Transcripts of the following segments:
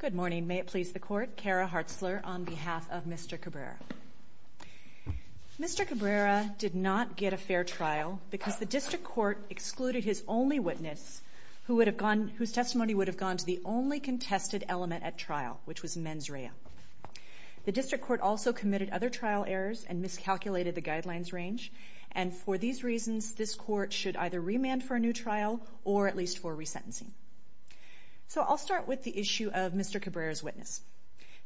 Good morning. May it please the Court, Kara Hartzler on behalf of Mr. Cabrera. Mr. Cabrera did not get a fair trial because the District Court excluded his only witness whose testimony would have gone to the only contested element at trial, which was mens rea. The District Court also committed other trial errors and miscalculated the guidelines range, and for these reasons this Court should either remand for a new trial or at least for resentencing. So I'll start with the issue of Mr. Cabrera's witness.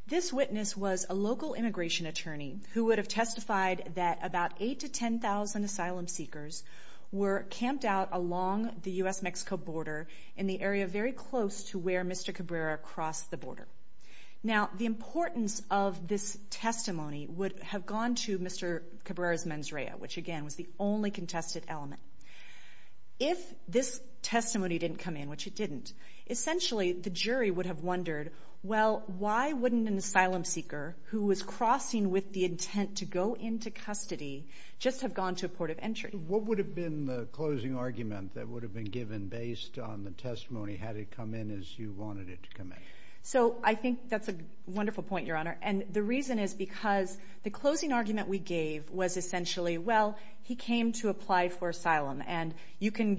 This witness was a local immigration attorney who would have testified that about 8 to 10,000 asylum seekers were camped out along the U.S.-Mexico border in the area very close to where Mr. Cabrera crossed the border. Now the importance of this testimony would have gone to Mr. Cabrera's mens rea, which again was the only contested element. If this testimony didn't come in, which it didn't, essentially the jury would have wondered, well, why wouldn't an asylum seeker who was crossing with the intent to go into custody just have gone to a port of entry? What would have been the closing argument that would have been given based on the testimony? Had it come in as you wanted it to come in? So I think that's a wonderful point, Your Honor, and the reason is because the closing argument we gave was essentially, well, he came to apply for asylum, and you can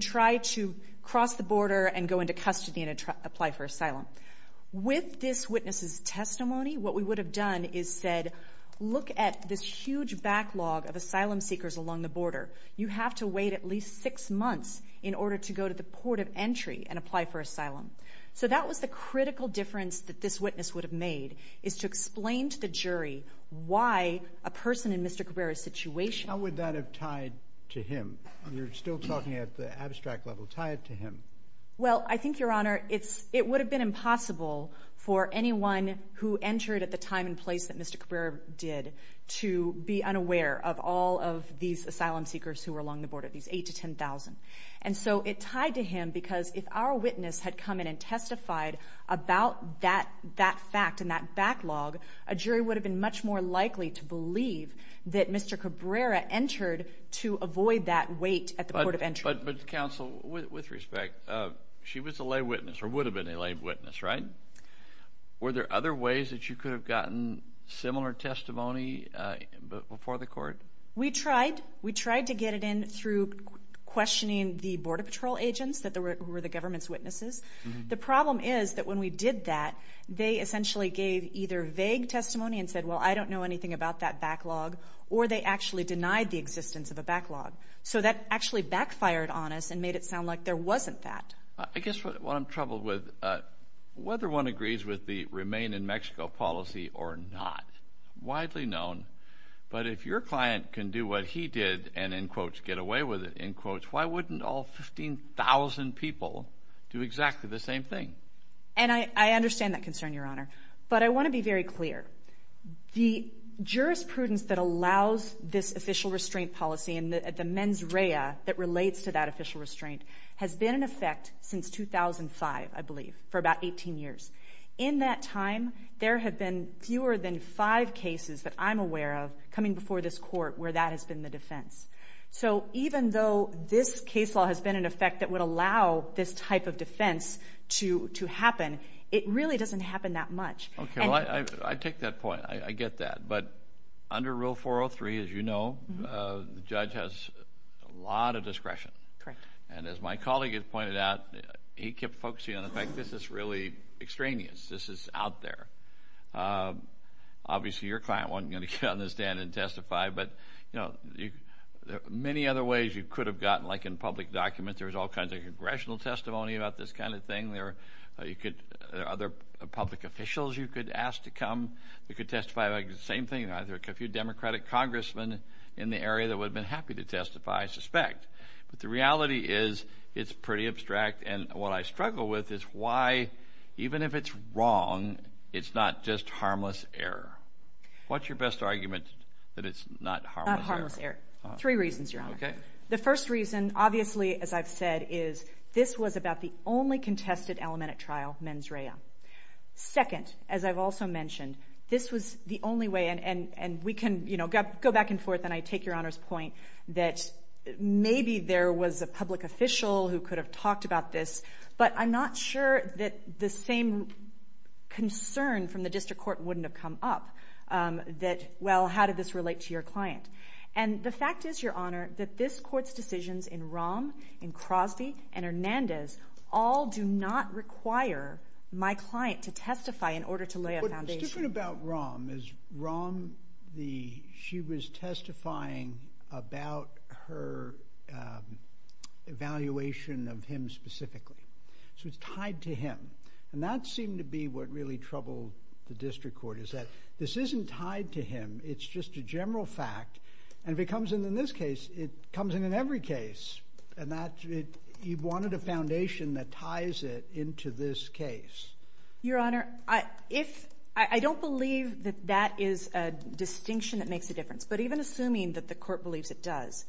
try to cross the border and go into custody and apply for asylum. With this witness's testimony, what we would have done is said, look at this huge backlog of asylum seekers along the border. You have to wait at least six months in order to go to the port of entry and apply for asylum. So that was the critical difference that this jury, why a person in Mr. Cabrera's situation... How would that have tied to him? You're still talking at the abstract level. Tie it to him. Well, I think, Your Honor, it would have been impossible for anyone who entered at the time and place that Mr. Cabrera did to be unaware of all of these asylum seekers who were along the border, these 8,000 to 10,000. And so it tied to him because if our witness had come in and testified about that fact and that backlog, a jury would have been much more likely to believe that Mr. Cabrera entered to avoid that wait at the port of entry. But counsel, with respect, she was a lay witness or would have been a lay witness, right? Were there other ways that you could have gotten similar testimony before the court? We tried. We tried to get it in through questioning the Border Patrol agents that were the government's The problem is that when we did that, they essentially gave either vague testimony and said, well, I don't know anything about that backlog, or they actually denied the existence of a backlog. So that actually backfired on us and made it sound like there wasn't that. I guess what I'm troubled with, whether one agrees with the Remain in Mexico policy or not, widely known, but if your client can do what he did and, in quotes, get away with it, in quotes, why wouldn't all 15,000 people do exactly the same thing? And I understand that concern, Your Honor. But I want to be very clear. The jurisprudence that allows this official restraint policy and the mens rea that relates to that official restraint has been in effect since 2005, I believe, for about 18 years. In that time, there have been fewer than five cases that I'm aware of coming before this court where that has been the defense. So even though this case law has been in effect that would allow this type of defense to happen, it really doesn't happen that much. Okay. Well, I take that point. I get that. But under Rule 403, as you know, the judge has a lot of discretion. Correct. And as my colleague has pointed out, he kept focusing on the fact that this is really extraneous. This is out there. Obviously, your client wasn't going to get on the stand and testify, but there are many other ways you could have gotten, like in public documents, there was all kinds of congressional testimony about this kind of thing. There are other public officials you could ask to come. You could testify about the same thing. There are a few Democratic congressmen in the area that would have been happy to testify, I suspect. But the reality is it's pretty abstract. And what I struggle with is why, even if it's wrong, it's not just harmless error. What's your best argument that it's not harmless error? Not harmless error. Three reasons, Your Honor. Okay. The first reason, obviously, as I've said, is this was about the only contested alimentate trial, mens rea. Second, as I've also mentioned, this was the only way, and we can go back and forth, and I take Your Honor's point that maybe there was a public official who could have talked about this, but I'm not sure that the same concern from the district court wouldn't have come up. That, well, how did this relate to your client? And the fact is, Your Honor, that this court's decisions in Rahm, in Crosby, and Hernandez all do not require my client to testify in order to lay a foundation. What's different about Rahm is Rahm, the, she was testifying about her evaluation of him specifically. So it's tied to him. And that seemed to be what really troubled the district court, is that this isn't tied to him. It's just a general fact. And if it comes in in this case, it comes in in every case. And that, it, he wanted a foundation that ties it into this case. Your Honor, I, if, I don't believe that that is a distinction that makes a difference. But even assuming that the court believes it does,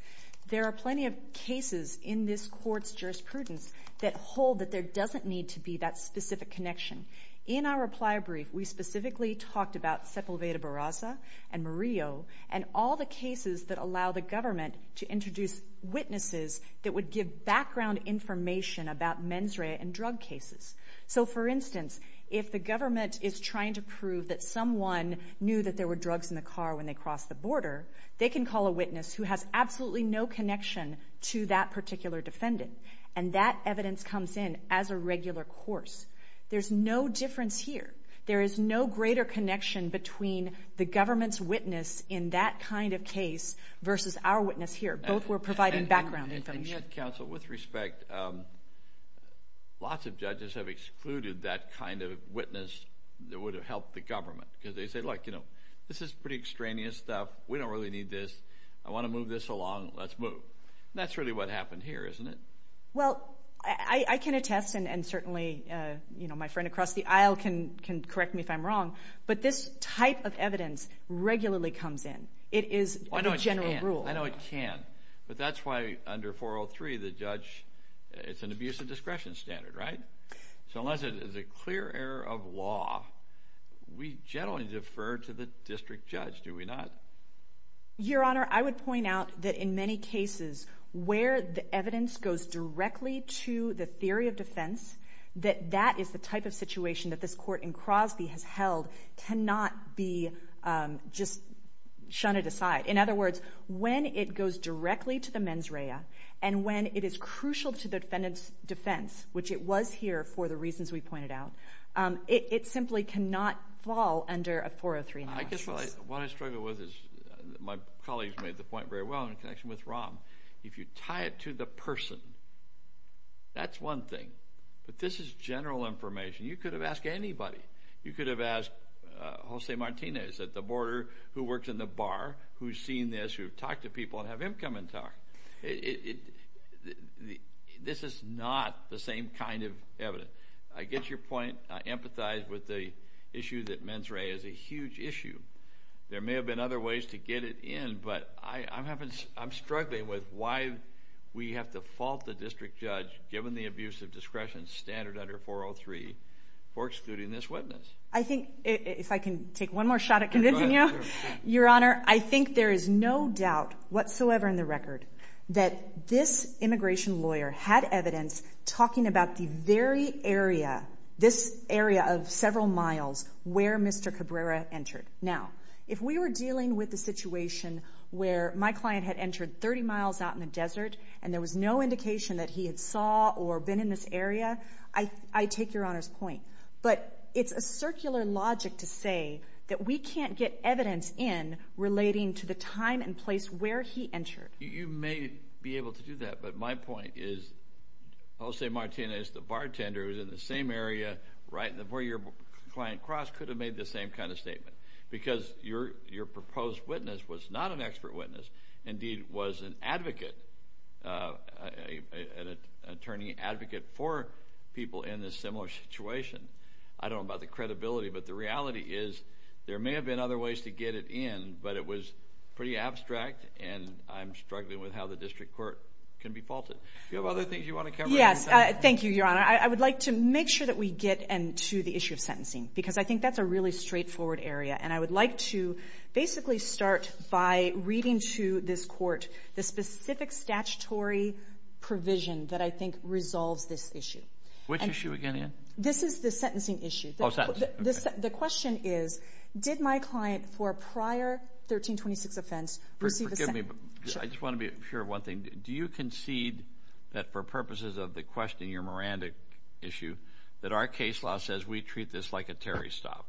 there are plenty of cases in this court's jurisprudence that hold that there doesn't need to be that specific connection. In our reply brief, we specifically talked about Sepulveda Barraza and Murillo, and all the cases that allow the government to introduce witnesses that would give background information about mens rea and drug cases. So, for instance, if the government is trying to prove that someone knew that there were drugs in the car when they crossed the border, they can call a witness who has absolutely no connection to that particular defendant. And that evidence comes in as a regular course. There's no difference here. There is no greater connection between the government's witness in that kind of case versus our witness here. Both were providing background information. Yet, counsel, with respect, lots of judges have excluded that kind of witness that would have helped the government. Because they say, like, you know, this is pretty extraneous stuff. We don't really need this. I want to move this along. Let's move. That's really what happened here, isn't it? Well, I can attest, and certainly, you know, my friend across the aisle can correct me if I'm wrong, but this type of evidence regularly comes in. It is a general rule. I know it can. But that's why under 403, the judge, it's an abuse of discretion standard, right? So unless it is a clear error of law, we generally defer to the district judge, do we not? Your Honor, I would point out that in many cases, where the evidence goes directly to the theory of defense, that that is the type of situation that this court in Crosby has When it goes directly to the mens rea, and when it is crucial to the defendant's defense, which it was here for the reasons we pointed out, it simply cannot fall under a 403. I guess what I struggle with is, my colleagues made the point very well in connection with Rahm, if you tie it to the person, that's one thing. But this is general information. You could have asked anybody. You could have asked Jose Martinez at the border, who works in the bar, who's seen this, who's talked to people, and have him come and talk. This is not the same kind of evidence. I get your point. I empathize with the issue that mens rea is a huge issue. There may have been other ways to get it in, but I'm struggling with why we have to fault the district judge, given the abuse of discretion standard under 403, for excluding this witness. I think, if I can take one more shot at convincing you, Your Honor, I think there is no doubt whatsoever in the record that this immigration lawyer had evidence talking about the very area, this area of several miles, where Mr. Cabrera entered. Now, if we were dealing with the situation where my client had entered 30 miles out in the desert, and there was no indication that he had saw or been in this area, I take Your Honor's point. But it's a circular logic to say that we can't get evidence in relating to the time and place where he entered. You may be able to do that, but my point is, Jose Martinez, the bartender who's in the same area, right where your client crossed, could have made the same kind of statement. Because your proposed witness was not an expert witness, indeed was an advocate, an attorney advocate for people in this similar situation. I don't know about the credibility, but the reality is, there may have been other ways to get it in, but it was pretty abstract, and I'm struggling with how the district court can be faulted. Do you have other things you want to cover? Yes. Thank you, Your Honor. I would like to make sure that we get into the issue of sentencing, because I think that's a really straightforward area. And I would like to basically start by reading to this court the specific statutory provision that I think resolves this issue. Which issue again, Anne? This is the sentencing issue. The question is, did my client, for a prior 1326 offense, receive a sentence? Forgive me, but I just want to be sure of one thing. Do you concede that for purposes of the question, your Miranda issue, that our case law says we treat this like a Terry stop?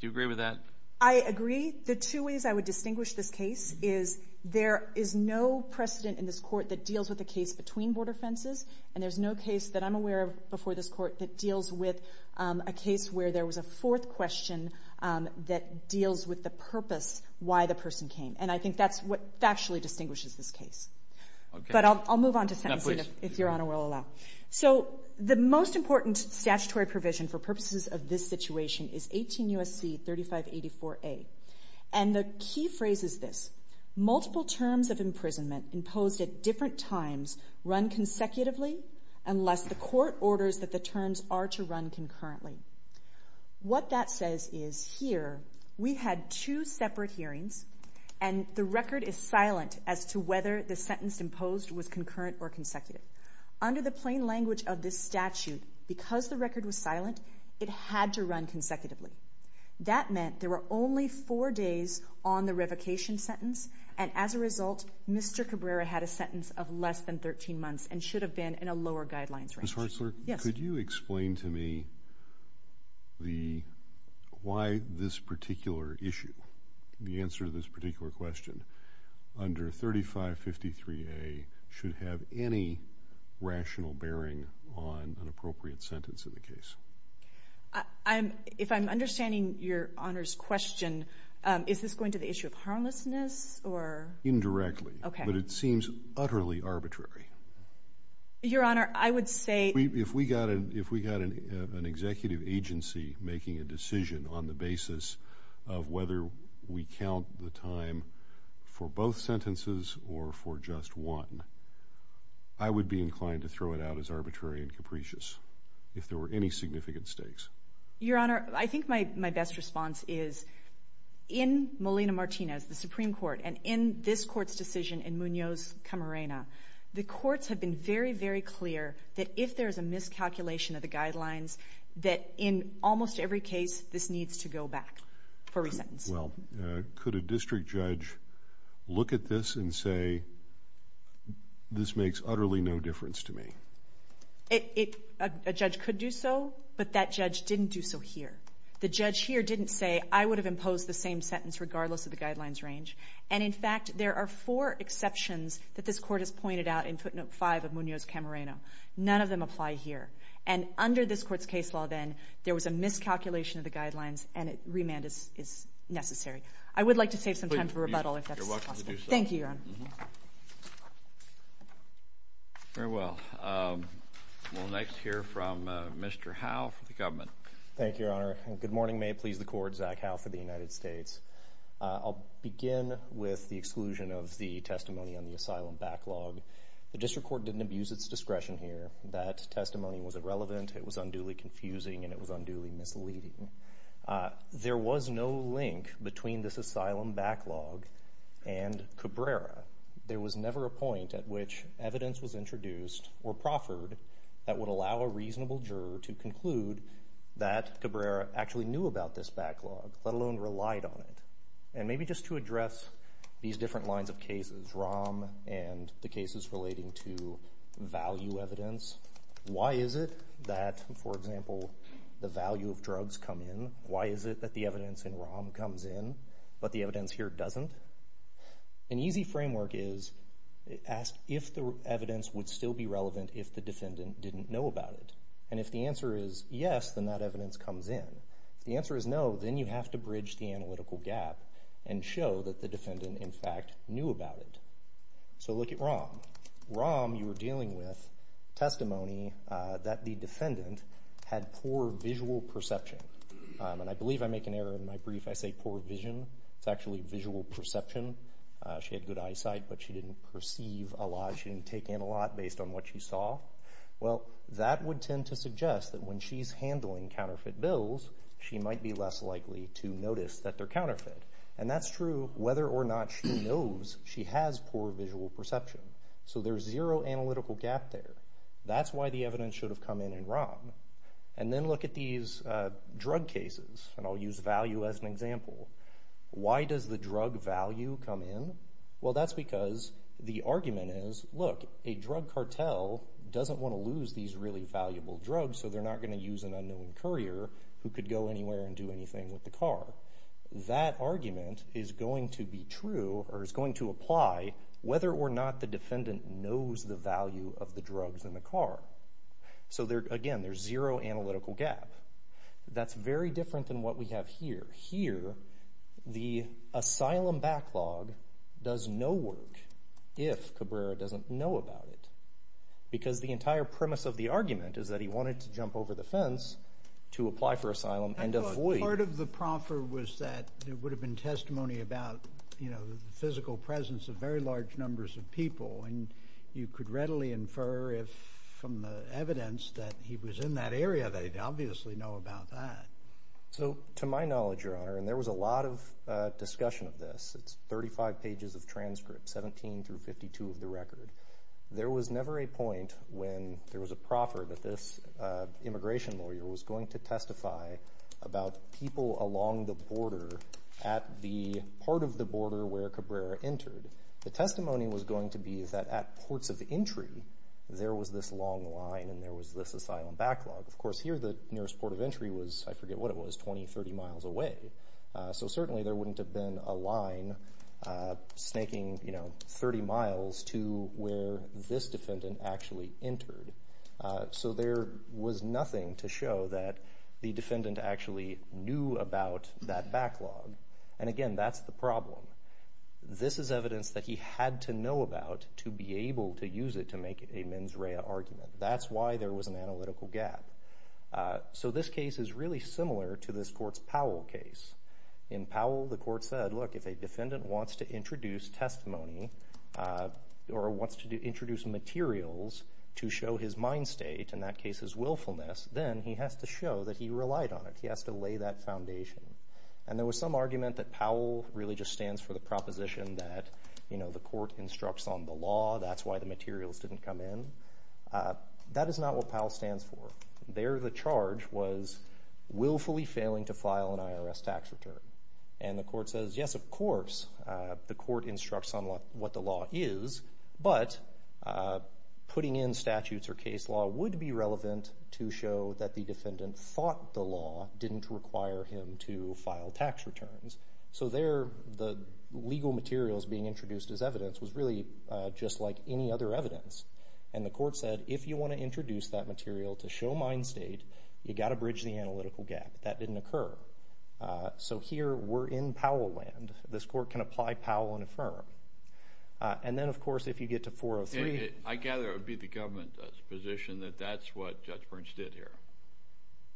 Do you agree with that? I agree. The two ways I would distinguish this case is, there is no precedent in this court that deals with a case between border fences, and there's no case that I'm aware of before this court that deals with a case where there was a fourth question that deals with the purpose why the person came. And I think that's what factually distinguishes this case. But I'll move on to sentencing, if Your Honor will allow. So the most important statutory provision for purposes of this situation is 18 U.S.C. 3584A. And the key phrase is this. Multiple terms of imprisonment imposed at different times run consecutively unless the court orders that the terms are to run concurrently. What that says is, here, we had two separate hearings, and the record is silent as to whether the plain language of this statute, because the record was silent, it had to run consecutively. That meant there were only four days on the revocation sentence, and as a result, Mr. Cabrera had a sentence of less than 13 months and should have been in a lower guidelines range. Ms. Hartzler, could you explain to me why this particular issue, the answer to this particular question, is not bearing on an appropriate sentence in the case? If I'm understanding Your Honor's question, is this going to the issue of harmlessness or? Indirectly. But it seems utterly arbitrary. Your Honor, I would say... If we got an executive agency making a decision on the basis of whether we count the time for both sentences or for just one, I would be inclined to throw it out as arbitrary and capricious, if there were any significant stakes. Your Honor, I think my best response is, in Molina-Martinez, the Supreme Court, and in this Court's decision in Munoz-Camarena, the courts have been very, very clear that if there's a miscalculation of the guidelines, that in almost every case, this needs to go back for resentence. Well, could a district judge look at this and say, this makes utterly no difference to me? A judge could do so, but that judge didn't do so here. The judge here didn't say, I would have imposed the same sentence regardless of the guidelines range. And in fact, there are four exceptions that this Court has pointed out in footnote 5 of Munoz-Camarena. None of them apply here. And under this Court's case law then, there was a miscalculation of the guidelines, and remand is necessary. I would like to save some time for rebuttal if that's possible. You're welcome to do so. Thank you, Your Honor. Very well. We'll next hear from Mr. Howe for the government. Thank you, Your Honor. And good morning, may it please the Court. Zach Howe for the United States. I'll begin with the exclusion of the testimony on the asylum backlog. The District Court didn't abuse its discretion here. That testimony was irrelevant, it was unduly confusing, and it was unduly misleading. There was no link between this asylum backlog and Cabrera. There was never a point at which evidence was introduced or proffered that would allow a reasonable juror to conclude that Cabrera actually knew about this backlog, let alone relied on it. And maybe just to address these different lines of cases, Rahm and the cases relating to value evidence, why is it that, for example, the value of drugs come in? Why is it that the evidence in Rahm comes in, but the evidence here doesn't? An easy framework is ask if the evidence would still be relevant if the defendant didn't know about it. And if the answer is yes, then that evidence comes in. If the answer is no, then you have to bridge the analytical gap and show that the defendant, in fact, knew about it. So look at Rahm. Rahm, you were dealing with testimony that the defendant had poor visual perception. And I believe I make an error in my brief. I say poor vision. It's actually visual perception. She had good eyesight, but she didn't perceive a lot. She didn't take in a lot based on what she saw. Well, that would tend to suggest that when she's handling counterfeit bills, she might be less likely to notice that they're counterfeit. And that's true whether or not she knows she has poor visual perception. So there's zero analytical gap there. That's why the evidence should have come in in Rahm. And then look at these drug cases. And I'll use value as an example. Why does the drug value come in? Well, that's because the argument is, look, a drug cartel doesn't want to lose these really valuable drugs, so they're not going to use an unknown courier who could go anywhere and do anything with the car. That argument is going to be true or is going to apply whether or not the defendant knows the value of the drugs in the car. So again, there's zero analytical gap. That's very different than what we have here. Here, the asylum backlog does no work if Cabrera doesn't know about it. Because the entire premise of the argument is that he wanted to jump over the fence to prove the proffer was that it would have been testimony about the physical presence of very large numbers of people. And you could readily infer from the evidence that he was in that area that he'd obviously know about that. So to my knowledge, Your Honor, and there was a lot of discussion of this. It's 35 pages of transcripts, 17 through 52 of the record. There was never a point when there was a proffer that this immigration lawyer was going to go along the border at the part of the border where Cabrera entered. The testimony was going to be that at ports of entry, there was this long line and there was this asylum backlog. Of course, here the nearest port of entry was, I forget what it was, 20, 30 miles away. So certainly there wouldn't have been a line snaking 30 miles to where this defendant actually entered. So there was nothing to show that the defendant actually knew about that backlog. And again, that's the problem. This is evidence that he had to know about to be able to use it to make a mens rea argument. That's why there was an analytical gap. So this case is really similar to this court's Powell case. In Powell, the court said, look, if a defendant wants to introduce testimony or wants to introduce materials to show his mind state, in that case his willfulness, then he has to show that he relied on it. He has to lay that foundation. And there was some argument that Powell really just stands for the proposition that the court instructs on the law, that's why the materials didn't come in. That is not what Powell stands for. There the charge was willfully failing to enforce. The court instructs on what the law is, but putting in statutes or case law would be relevant to show that the defendant thought the law didn't require him to file tax returns. So there the legal materials being introduced as evidence was really just like any other evidence. And the court said, if you want to introduce that material to show mind state, you've got to bridge the analytical gap. That didn't occur. So here we're in Powell land. This court can apply Powell and affirm. And then, of course, if you get to 403. I gather it would be the government's position that that's what Judge Burns did here.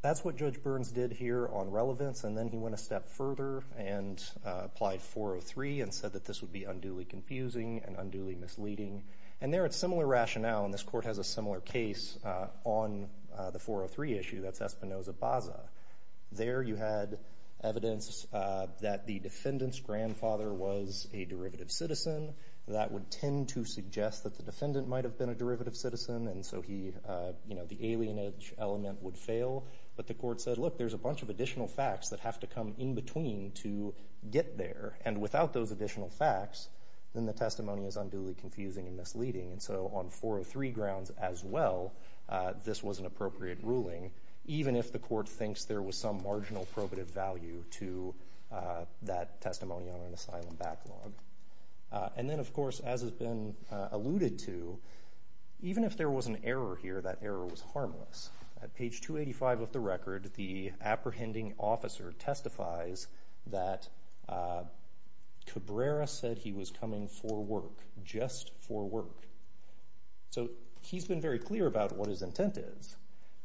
That's what Judge Burns did here on relevance, and then he went a step further and applied 403 and said that this would be unduly confusing and unduly misleading. And there it's similar rationale, and this court has a similar case on the 403 issue. That's Espinoza-Baza. There you had evidence that the defendant's grandfather was a derivative citizen. That would tend to suggest that the defendant might have been a derivative citizen, and so he, you know, the alienage element would fail. But the court said, look, there's a bunch of additional facts that have to come in between to get there. And without those additional facts, then the testimony is unduly confusing and misleading. And so on 403 grounds as well, this was an appropriate ruling, even if the court thinks there was some marginal probative value to that testimony on an asylum backlog. And then, of course, as has been alluded to, even if there was an error here, that error was harmless. At page 285 of the record, the apprehending officer testifies that Cabrera said he was coming for work, just for work. So he's been very clear about what his intent is.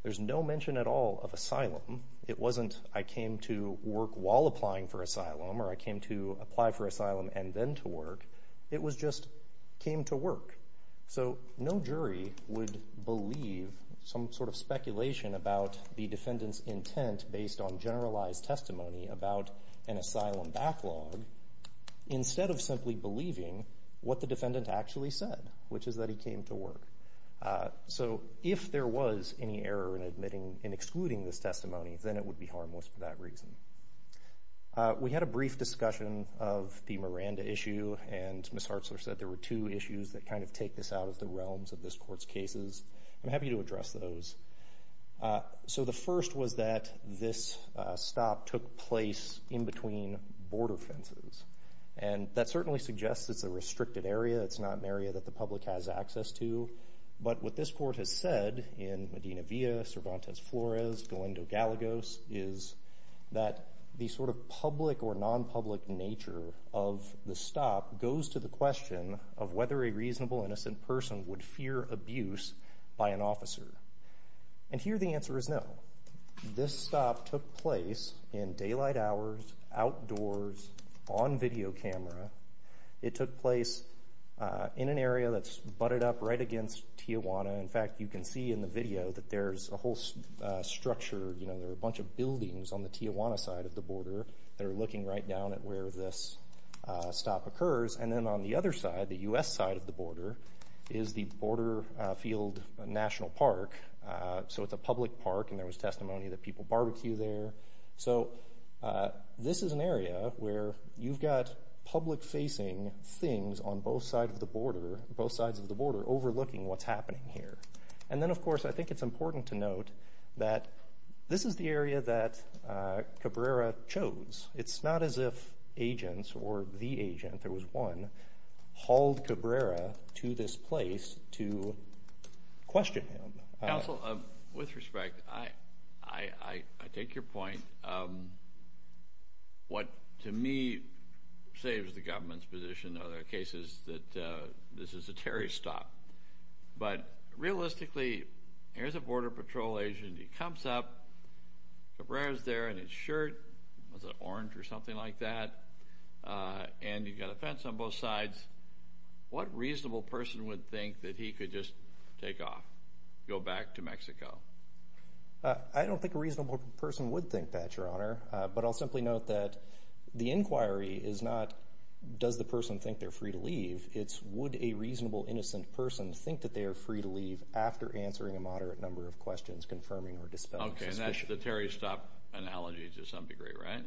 There's no mention at all of asylum. It wasn't, I came to work while applying for asylum, or I came to apply for asylum and then to work. It was just, came to work. So no jury would believe some sort of speculation about the defendant's intent based on generalized testimony about an asylum backlog, instead of simply believing what the defendant actually said, which is that he came to work. So if there was any error in admitting, in excluding this testimony, then it would be harmless for that reason. We had a brief discussion of the Miranda issue, and Ms. Hartzler said there were two issues that kind of take this out of the realms of this court's cases. I'm happy to address those. So the first was that this stop took place in between border fences. And that certainly suggests it's a restricted area. It's not an area that the public has access to. But what this court has said in Medina Villa, Cervantes Flores, Galindo Gallegos, is that the sort of public or non-public nature of the stop goes to the question of whether a reasonable, innocent person would fear abuse by an officer. And here the answer is no. This stop took place in daylight hours, outdoors, on video camera. It took place in an area that's butted up right against Tijuana. In fact, you can see in the video that there's a whole structure, you know, there are a bunch of buildings on the Tijuana side of the border that are looking right down at where this stop occurs. And then on the other side, the U.S. side of the border, is the Border Field National Park. So it's a public park and there was testimony that people barbecue there. So this is an area where you've got public-facing things on both sides of the border, both sides of the border, overlooking what's happening here. And then, of course, I think it's important to note that this is the area that Cabrera chose. It's not as if agents or the agents – there was one – hauled Cabrera to this place to question him. Counsel, with respect, I take your point. What, to me, saves the government's position are the cases that this is a terrorist stop. But realistically, here's a Border Patrol agent, he comes up, Cabrera's there in his shirt, was it orange or something like that, and you've got a fence on both sides. What reasonable person would think that he could just take off, go back to Mexico? I don't think a reasonable person would think that, Your Honor. But I'll simply note that the inquiry is not, does the person think they're free to leave? It's, would a reasonable, innocent person think that they are free to leave after answering a moderate number of questions confirming or dispelling suspicion? Okay, and that's the terrorist stop analogy to some degree, right?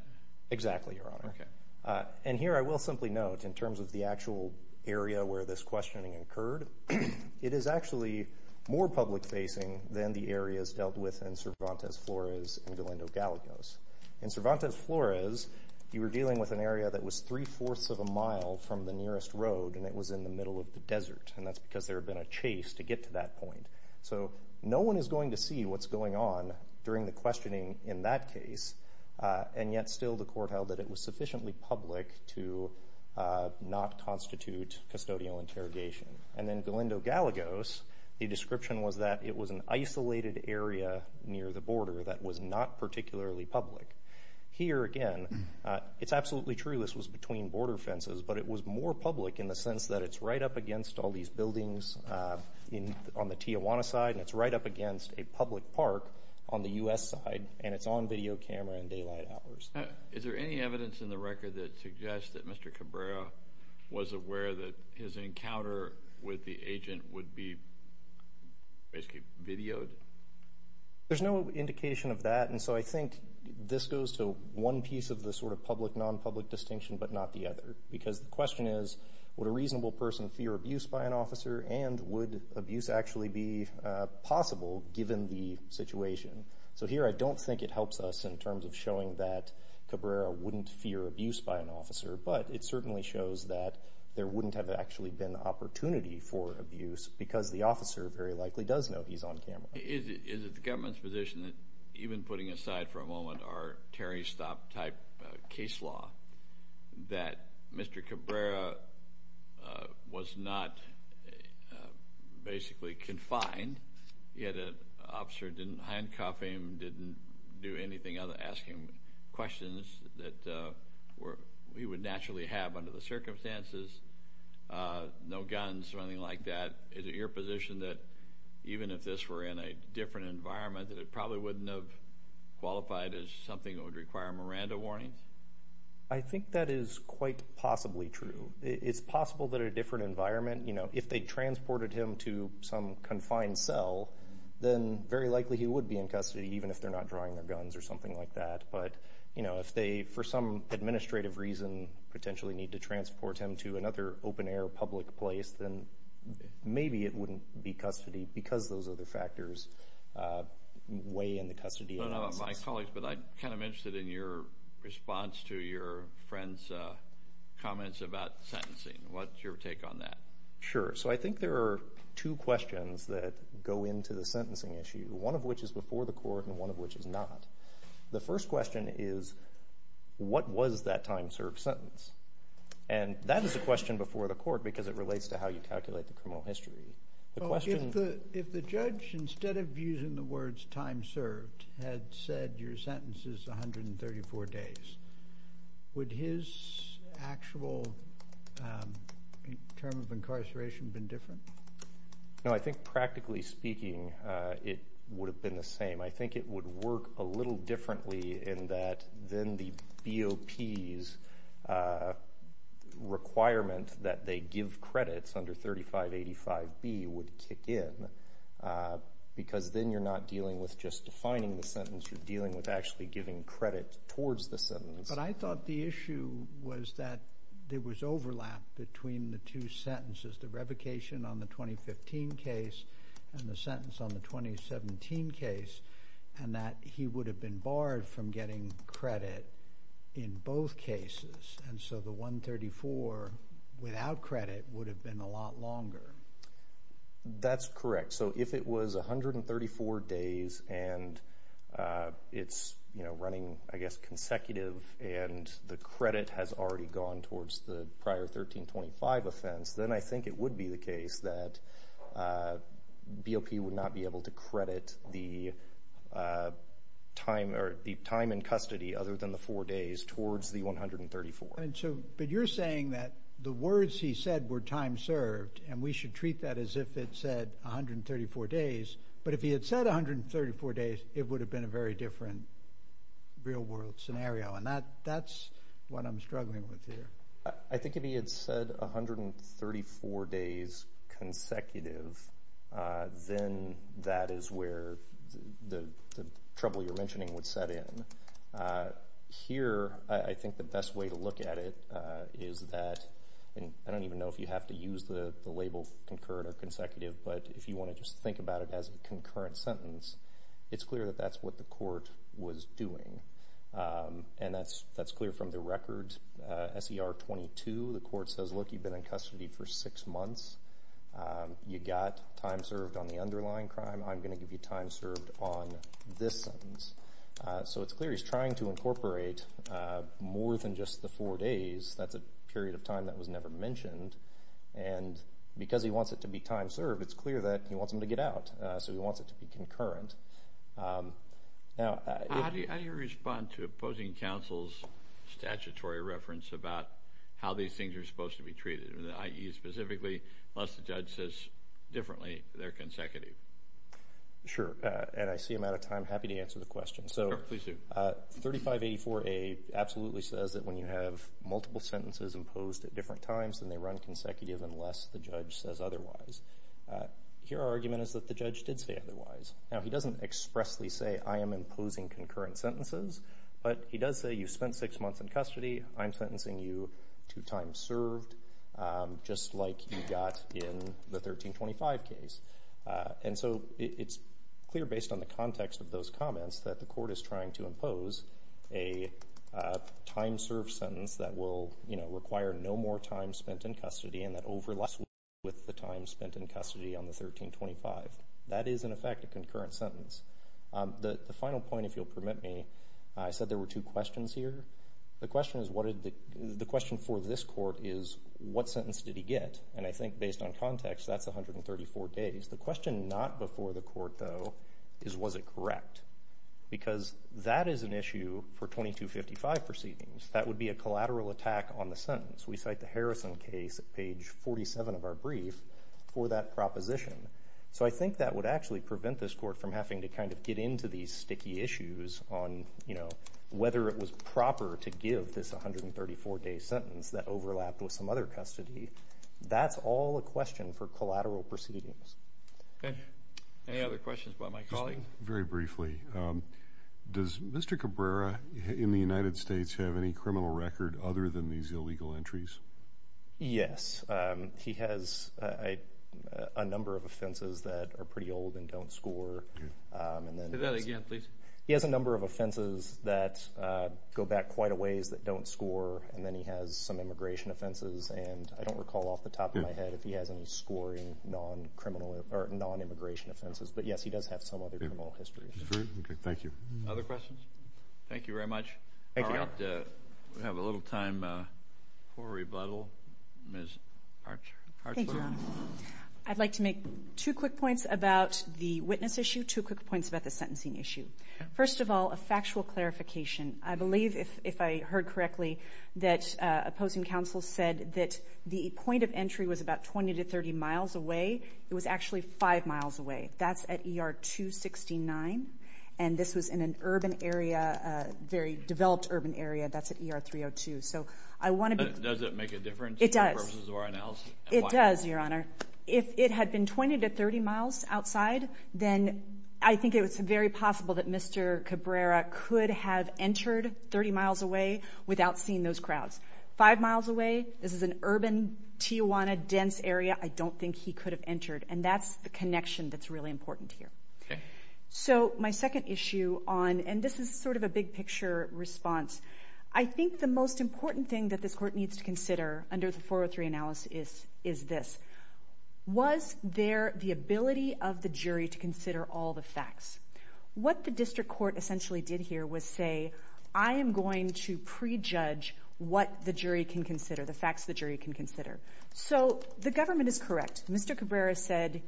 Exactly, Your Honor. And here I will simply note, in terms of the actual area where this questioning occurred, it is actually more public-facing than the areas dealt with in Cervantes Flores and Galindo Gallegos. In Cervantes Flores, you were dealing with an area that was three-fourths of a mile from the nearest road, and it was in the middle of the desert, and that's because there had been a chase to get to that point. So, no one is going to see what's going on during the questioning in that case, and yet still the court held that it was sufficiently public to not constitute custodial interrogation. And then Galindo Gallegos, the description was that it was an isolated area near the border that was not particularly public. Here, again, it's absolutely true this was between border fences, but it was more public in the sense that it's right up against all these buildings on the Tijuana side, and it's right up against a public park on the U.S. side, and it's on video camera and daylight hours. Is there any evidence in the record that suggests that Mr. Cabrera was aware that his encounter with the agent would be basically videoed? There's no indication of that, and so I think this goes to one piece of the sort of public-nonpublic distinction but not the other, because the question is, would a reasonable person fear abuse by an officer, and would abuse actually be possible given the situation? So, here I don't think it helps us in terms of showing that Cabrera wouldn't fear abuse by an officer, but it certainly shows that there wouldn't have actually been opportunity for abuse because the officer very likely does know he's on camera. Is it the government's position that, even putting aside for a moment our Terry Stopp type case law, that Mr. Cabrera was not basically confined, yet an officer didn't handcuff him, didn't do anything other than ask him questions that he would naturally have under the circumstances, no guns, or anything like that? Is it your position that even if this were in a different environment, that it probably wouldn't have qualified as something that would require Miranda warnings? I think that is quite possibly true. It's possible that in a different environment, if they transported him to some confined cell, then very likely he would be in custody, even if they're not drawing their guns or something like that. But if they, for some administrative reason, potentially need to transport him to another open-air public place, then maybe it wouldn't be custody because those other factors weigh in the custody. My colleagues, but I'm kind of interested in your response to your friend's comments about sentencing. What's your take on that? Sure. So I think there are two questions that go into the sentencing issue, one of which is before the court and one of which is not. The first question is, what was that time served sentence? And that is a question before the court because it relates to how you calculate the criminal history. If the judge, instead of using the words time served, had said your sentence is 134 days, would his actual term of incarceration have been different? No, I think practically speaking, it would have been the same. I think it would work a little differently in that then the BOP's requirement that they give credits under 3585B would kick in because then you're not dealing with just defining the sentence, you're dealing with actually giving credit towards the sentence. But I thought the issue was that there was overlap between the two sentences, the revocation on the 2015 case and the sentence on the 2017 case, and that he would have been barred from getting credit in both cases. And so the 134 without credit would have been a lot longer. That's correct. So if it was 134 days and it's running, I guess, consecutive and the case that BOP would not be able to credit the time in custody other than the four days towards the 134. But you're saying that the words he said were time served and we should treat that as if it said 134 days. But if he had said 134 days, it would have been a very different real world scenario. And that's what I'm struggling with here. I think if he had said 134 days consecutive, then that is where the trouble you're mentioning would set in. Here, I think the best way to look at it is that, I don't even know if you have to use the label concurrent or consecutive, but if you want to just think about it as a concurrent sentence, it's clear that that's what the court was doing. And that's clear from the record SER 22. The court says, look, you've been in custody for six months. You got time served on the underlying crime. I'm going to give you time served on this sentence. So it's clear he's trying to incorporate more than just the four days. That's a period of time that was never mentioned. And because he wants it to be time served, it's clear that he wants him to get out. So he wants it to be concurrent. How do you respond to opposing counsel's statutory reference about how these things are supposed to be treated, i.e. specifically, unless the judge says differently, they're consecutive? Sure. And I see I'm out of time. Happy to answer the question. So 3584A absolutely says that when you have multiple sentences imposed at different times, then they run consecutive unless the judge says otherwise. Here, our argument is that the judge doesn't expressly say, I am imposing concurrent sentences. But he does say, you spent six months in custody. I'm sentencing you to time served, just like you got in the 1325 case. And so it's clear based on the context of those comments that the court is trying to impose a time served sentence that will require no more time spent in custody and that overlaps with the time spent in custody on the 1325. That is, in effect, a sentence. The final point, if you'll permit me, I said there were two questions here. The question for this court is, what sentence did he get? And I think based on context, that's 134 days. The question not before the court, though, is was it correct? Because that is an issue for 2255 proceedings. That would be a collateral attack on the sentence. We cite the Harrison case at page 47 of our brief for that proposition. So I think that would actually prevent this court from having to kind of get into these sticky issues on whether it was proper to give this 134 day sentence that overlapped with some other custody. That's all a question for collateral proceedings. Any other questions about my colleague? Very briefly, does Mr. Cabrera in the United States have any criminal record other than these illegal entries? Yes, he has a number of offenses that are pretty old and don't score. Say that again, please. He has a number of offenses that go back quite a ways that don't score. And then he has some immigration offenses. And I don't recall off the top of my head if he has any scoring non-immigration offenses. But yes, he does have some other criminal histories. Thank you. Other questions? Thank you very much. Thank you. We have a little time for rebuttal. Ms. Parchler. Thank you, Your Honor. I'd like to make two quick points about the witness issue, two quick points about the sentencing issue. First of all, a factual clarification. I believe, if I heard correctly, that opposing counsel said that the point of entry was about 20 to 30 miles away. It was actually five miles away. That's at ER 269. And this was in an urban area, a very developed urban area. That's at ER 302. So I want to be... Does it make a difference in terms of our analysis? It does, Your Honor. If it had been 20 to 30 miles outside, then I think it was very possible that Mr. Cabrera could have entered 30 miles away without seeing those crowds. Five miles away, this is an urban Tijuana dense area. I don't think he could have entered. And that's the connection that's really important here. So my second issue on... And this is sort of a big picture response. I think the most important thing that this court needs to consider under the 403 analysis is this. Was there the ability of the jury to consider all the facts? What the district court essentially did here was say, I am going to prejudge what the jury can consider, the facts the jury can consider. So the government is correct. Mr. Cabrera said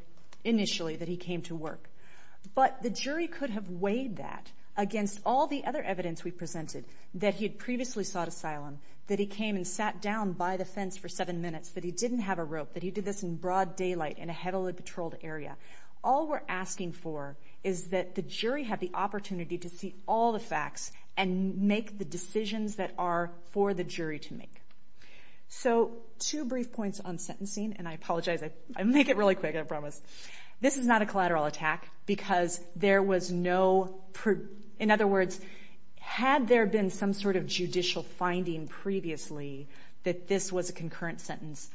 initially that he came to work. But the jury could have weighed that against all the other evidence we presented that he had previously sought asylum, that he came and sat down by the fence for seven minutes, that he didn't have a rope, that he did this in broad daylight in a heavily patrolled area. All we're asking for is that the jury have the opportunity to see all the facts and make the decisions that are for the jury to make. So two brief points on sentencing, and I apologize. I make it really quick, I promise. This is not a collateral attack because there was no, in other words, had there been some sort of judicial finding previously that this was a concurrent sentence,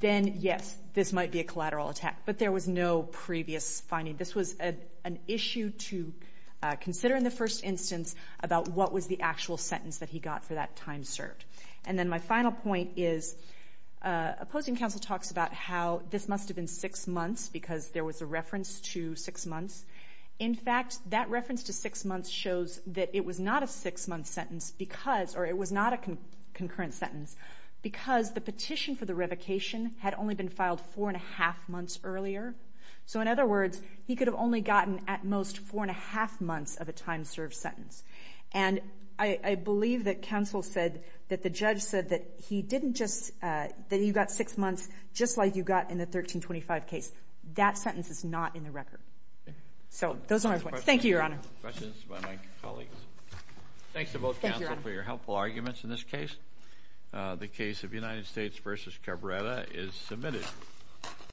then yes, this might be a collateral attack. But there was no previous finding. This was an issue to consider in the first instance about what was the actual sentence that he got for that time served. And then my final point is, opposing counsel talks about how this must have been six months because there was a reference to six months. In fact, that reference to six months shows that it was not a six-month sentence because, or it was not a concurrent sentence, because the petition for the revocation had only been filed four and a half months earlier. So in other words, he could have only gotten at most four and a half months of a time served sentence. And I believe that counsel said that the judge said that he didn't just, that he got six months just like you got in the 1325 case. That sentence is not in the record. So those are my points. Thank you, Your Honor. Questions by my colleagues. Thanks to both counsel for your helpful arguments in this case. The case of United States v. Cabrera is submitted.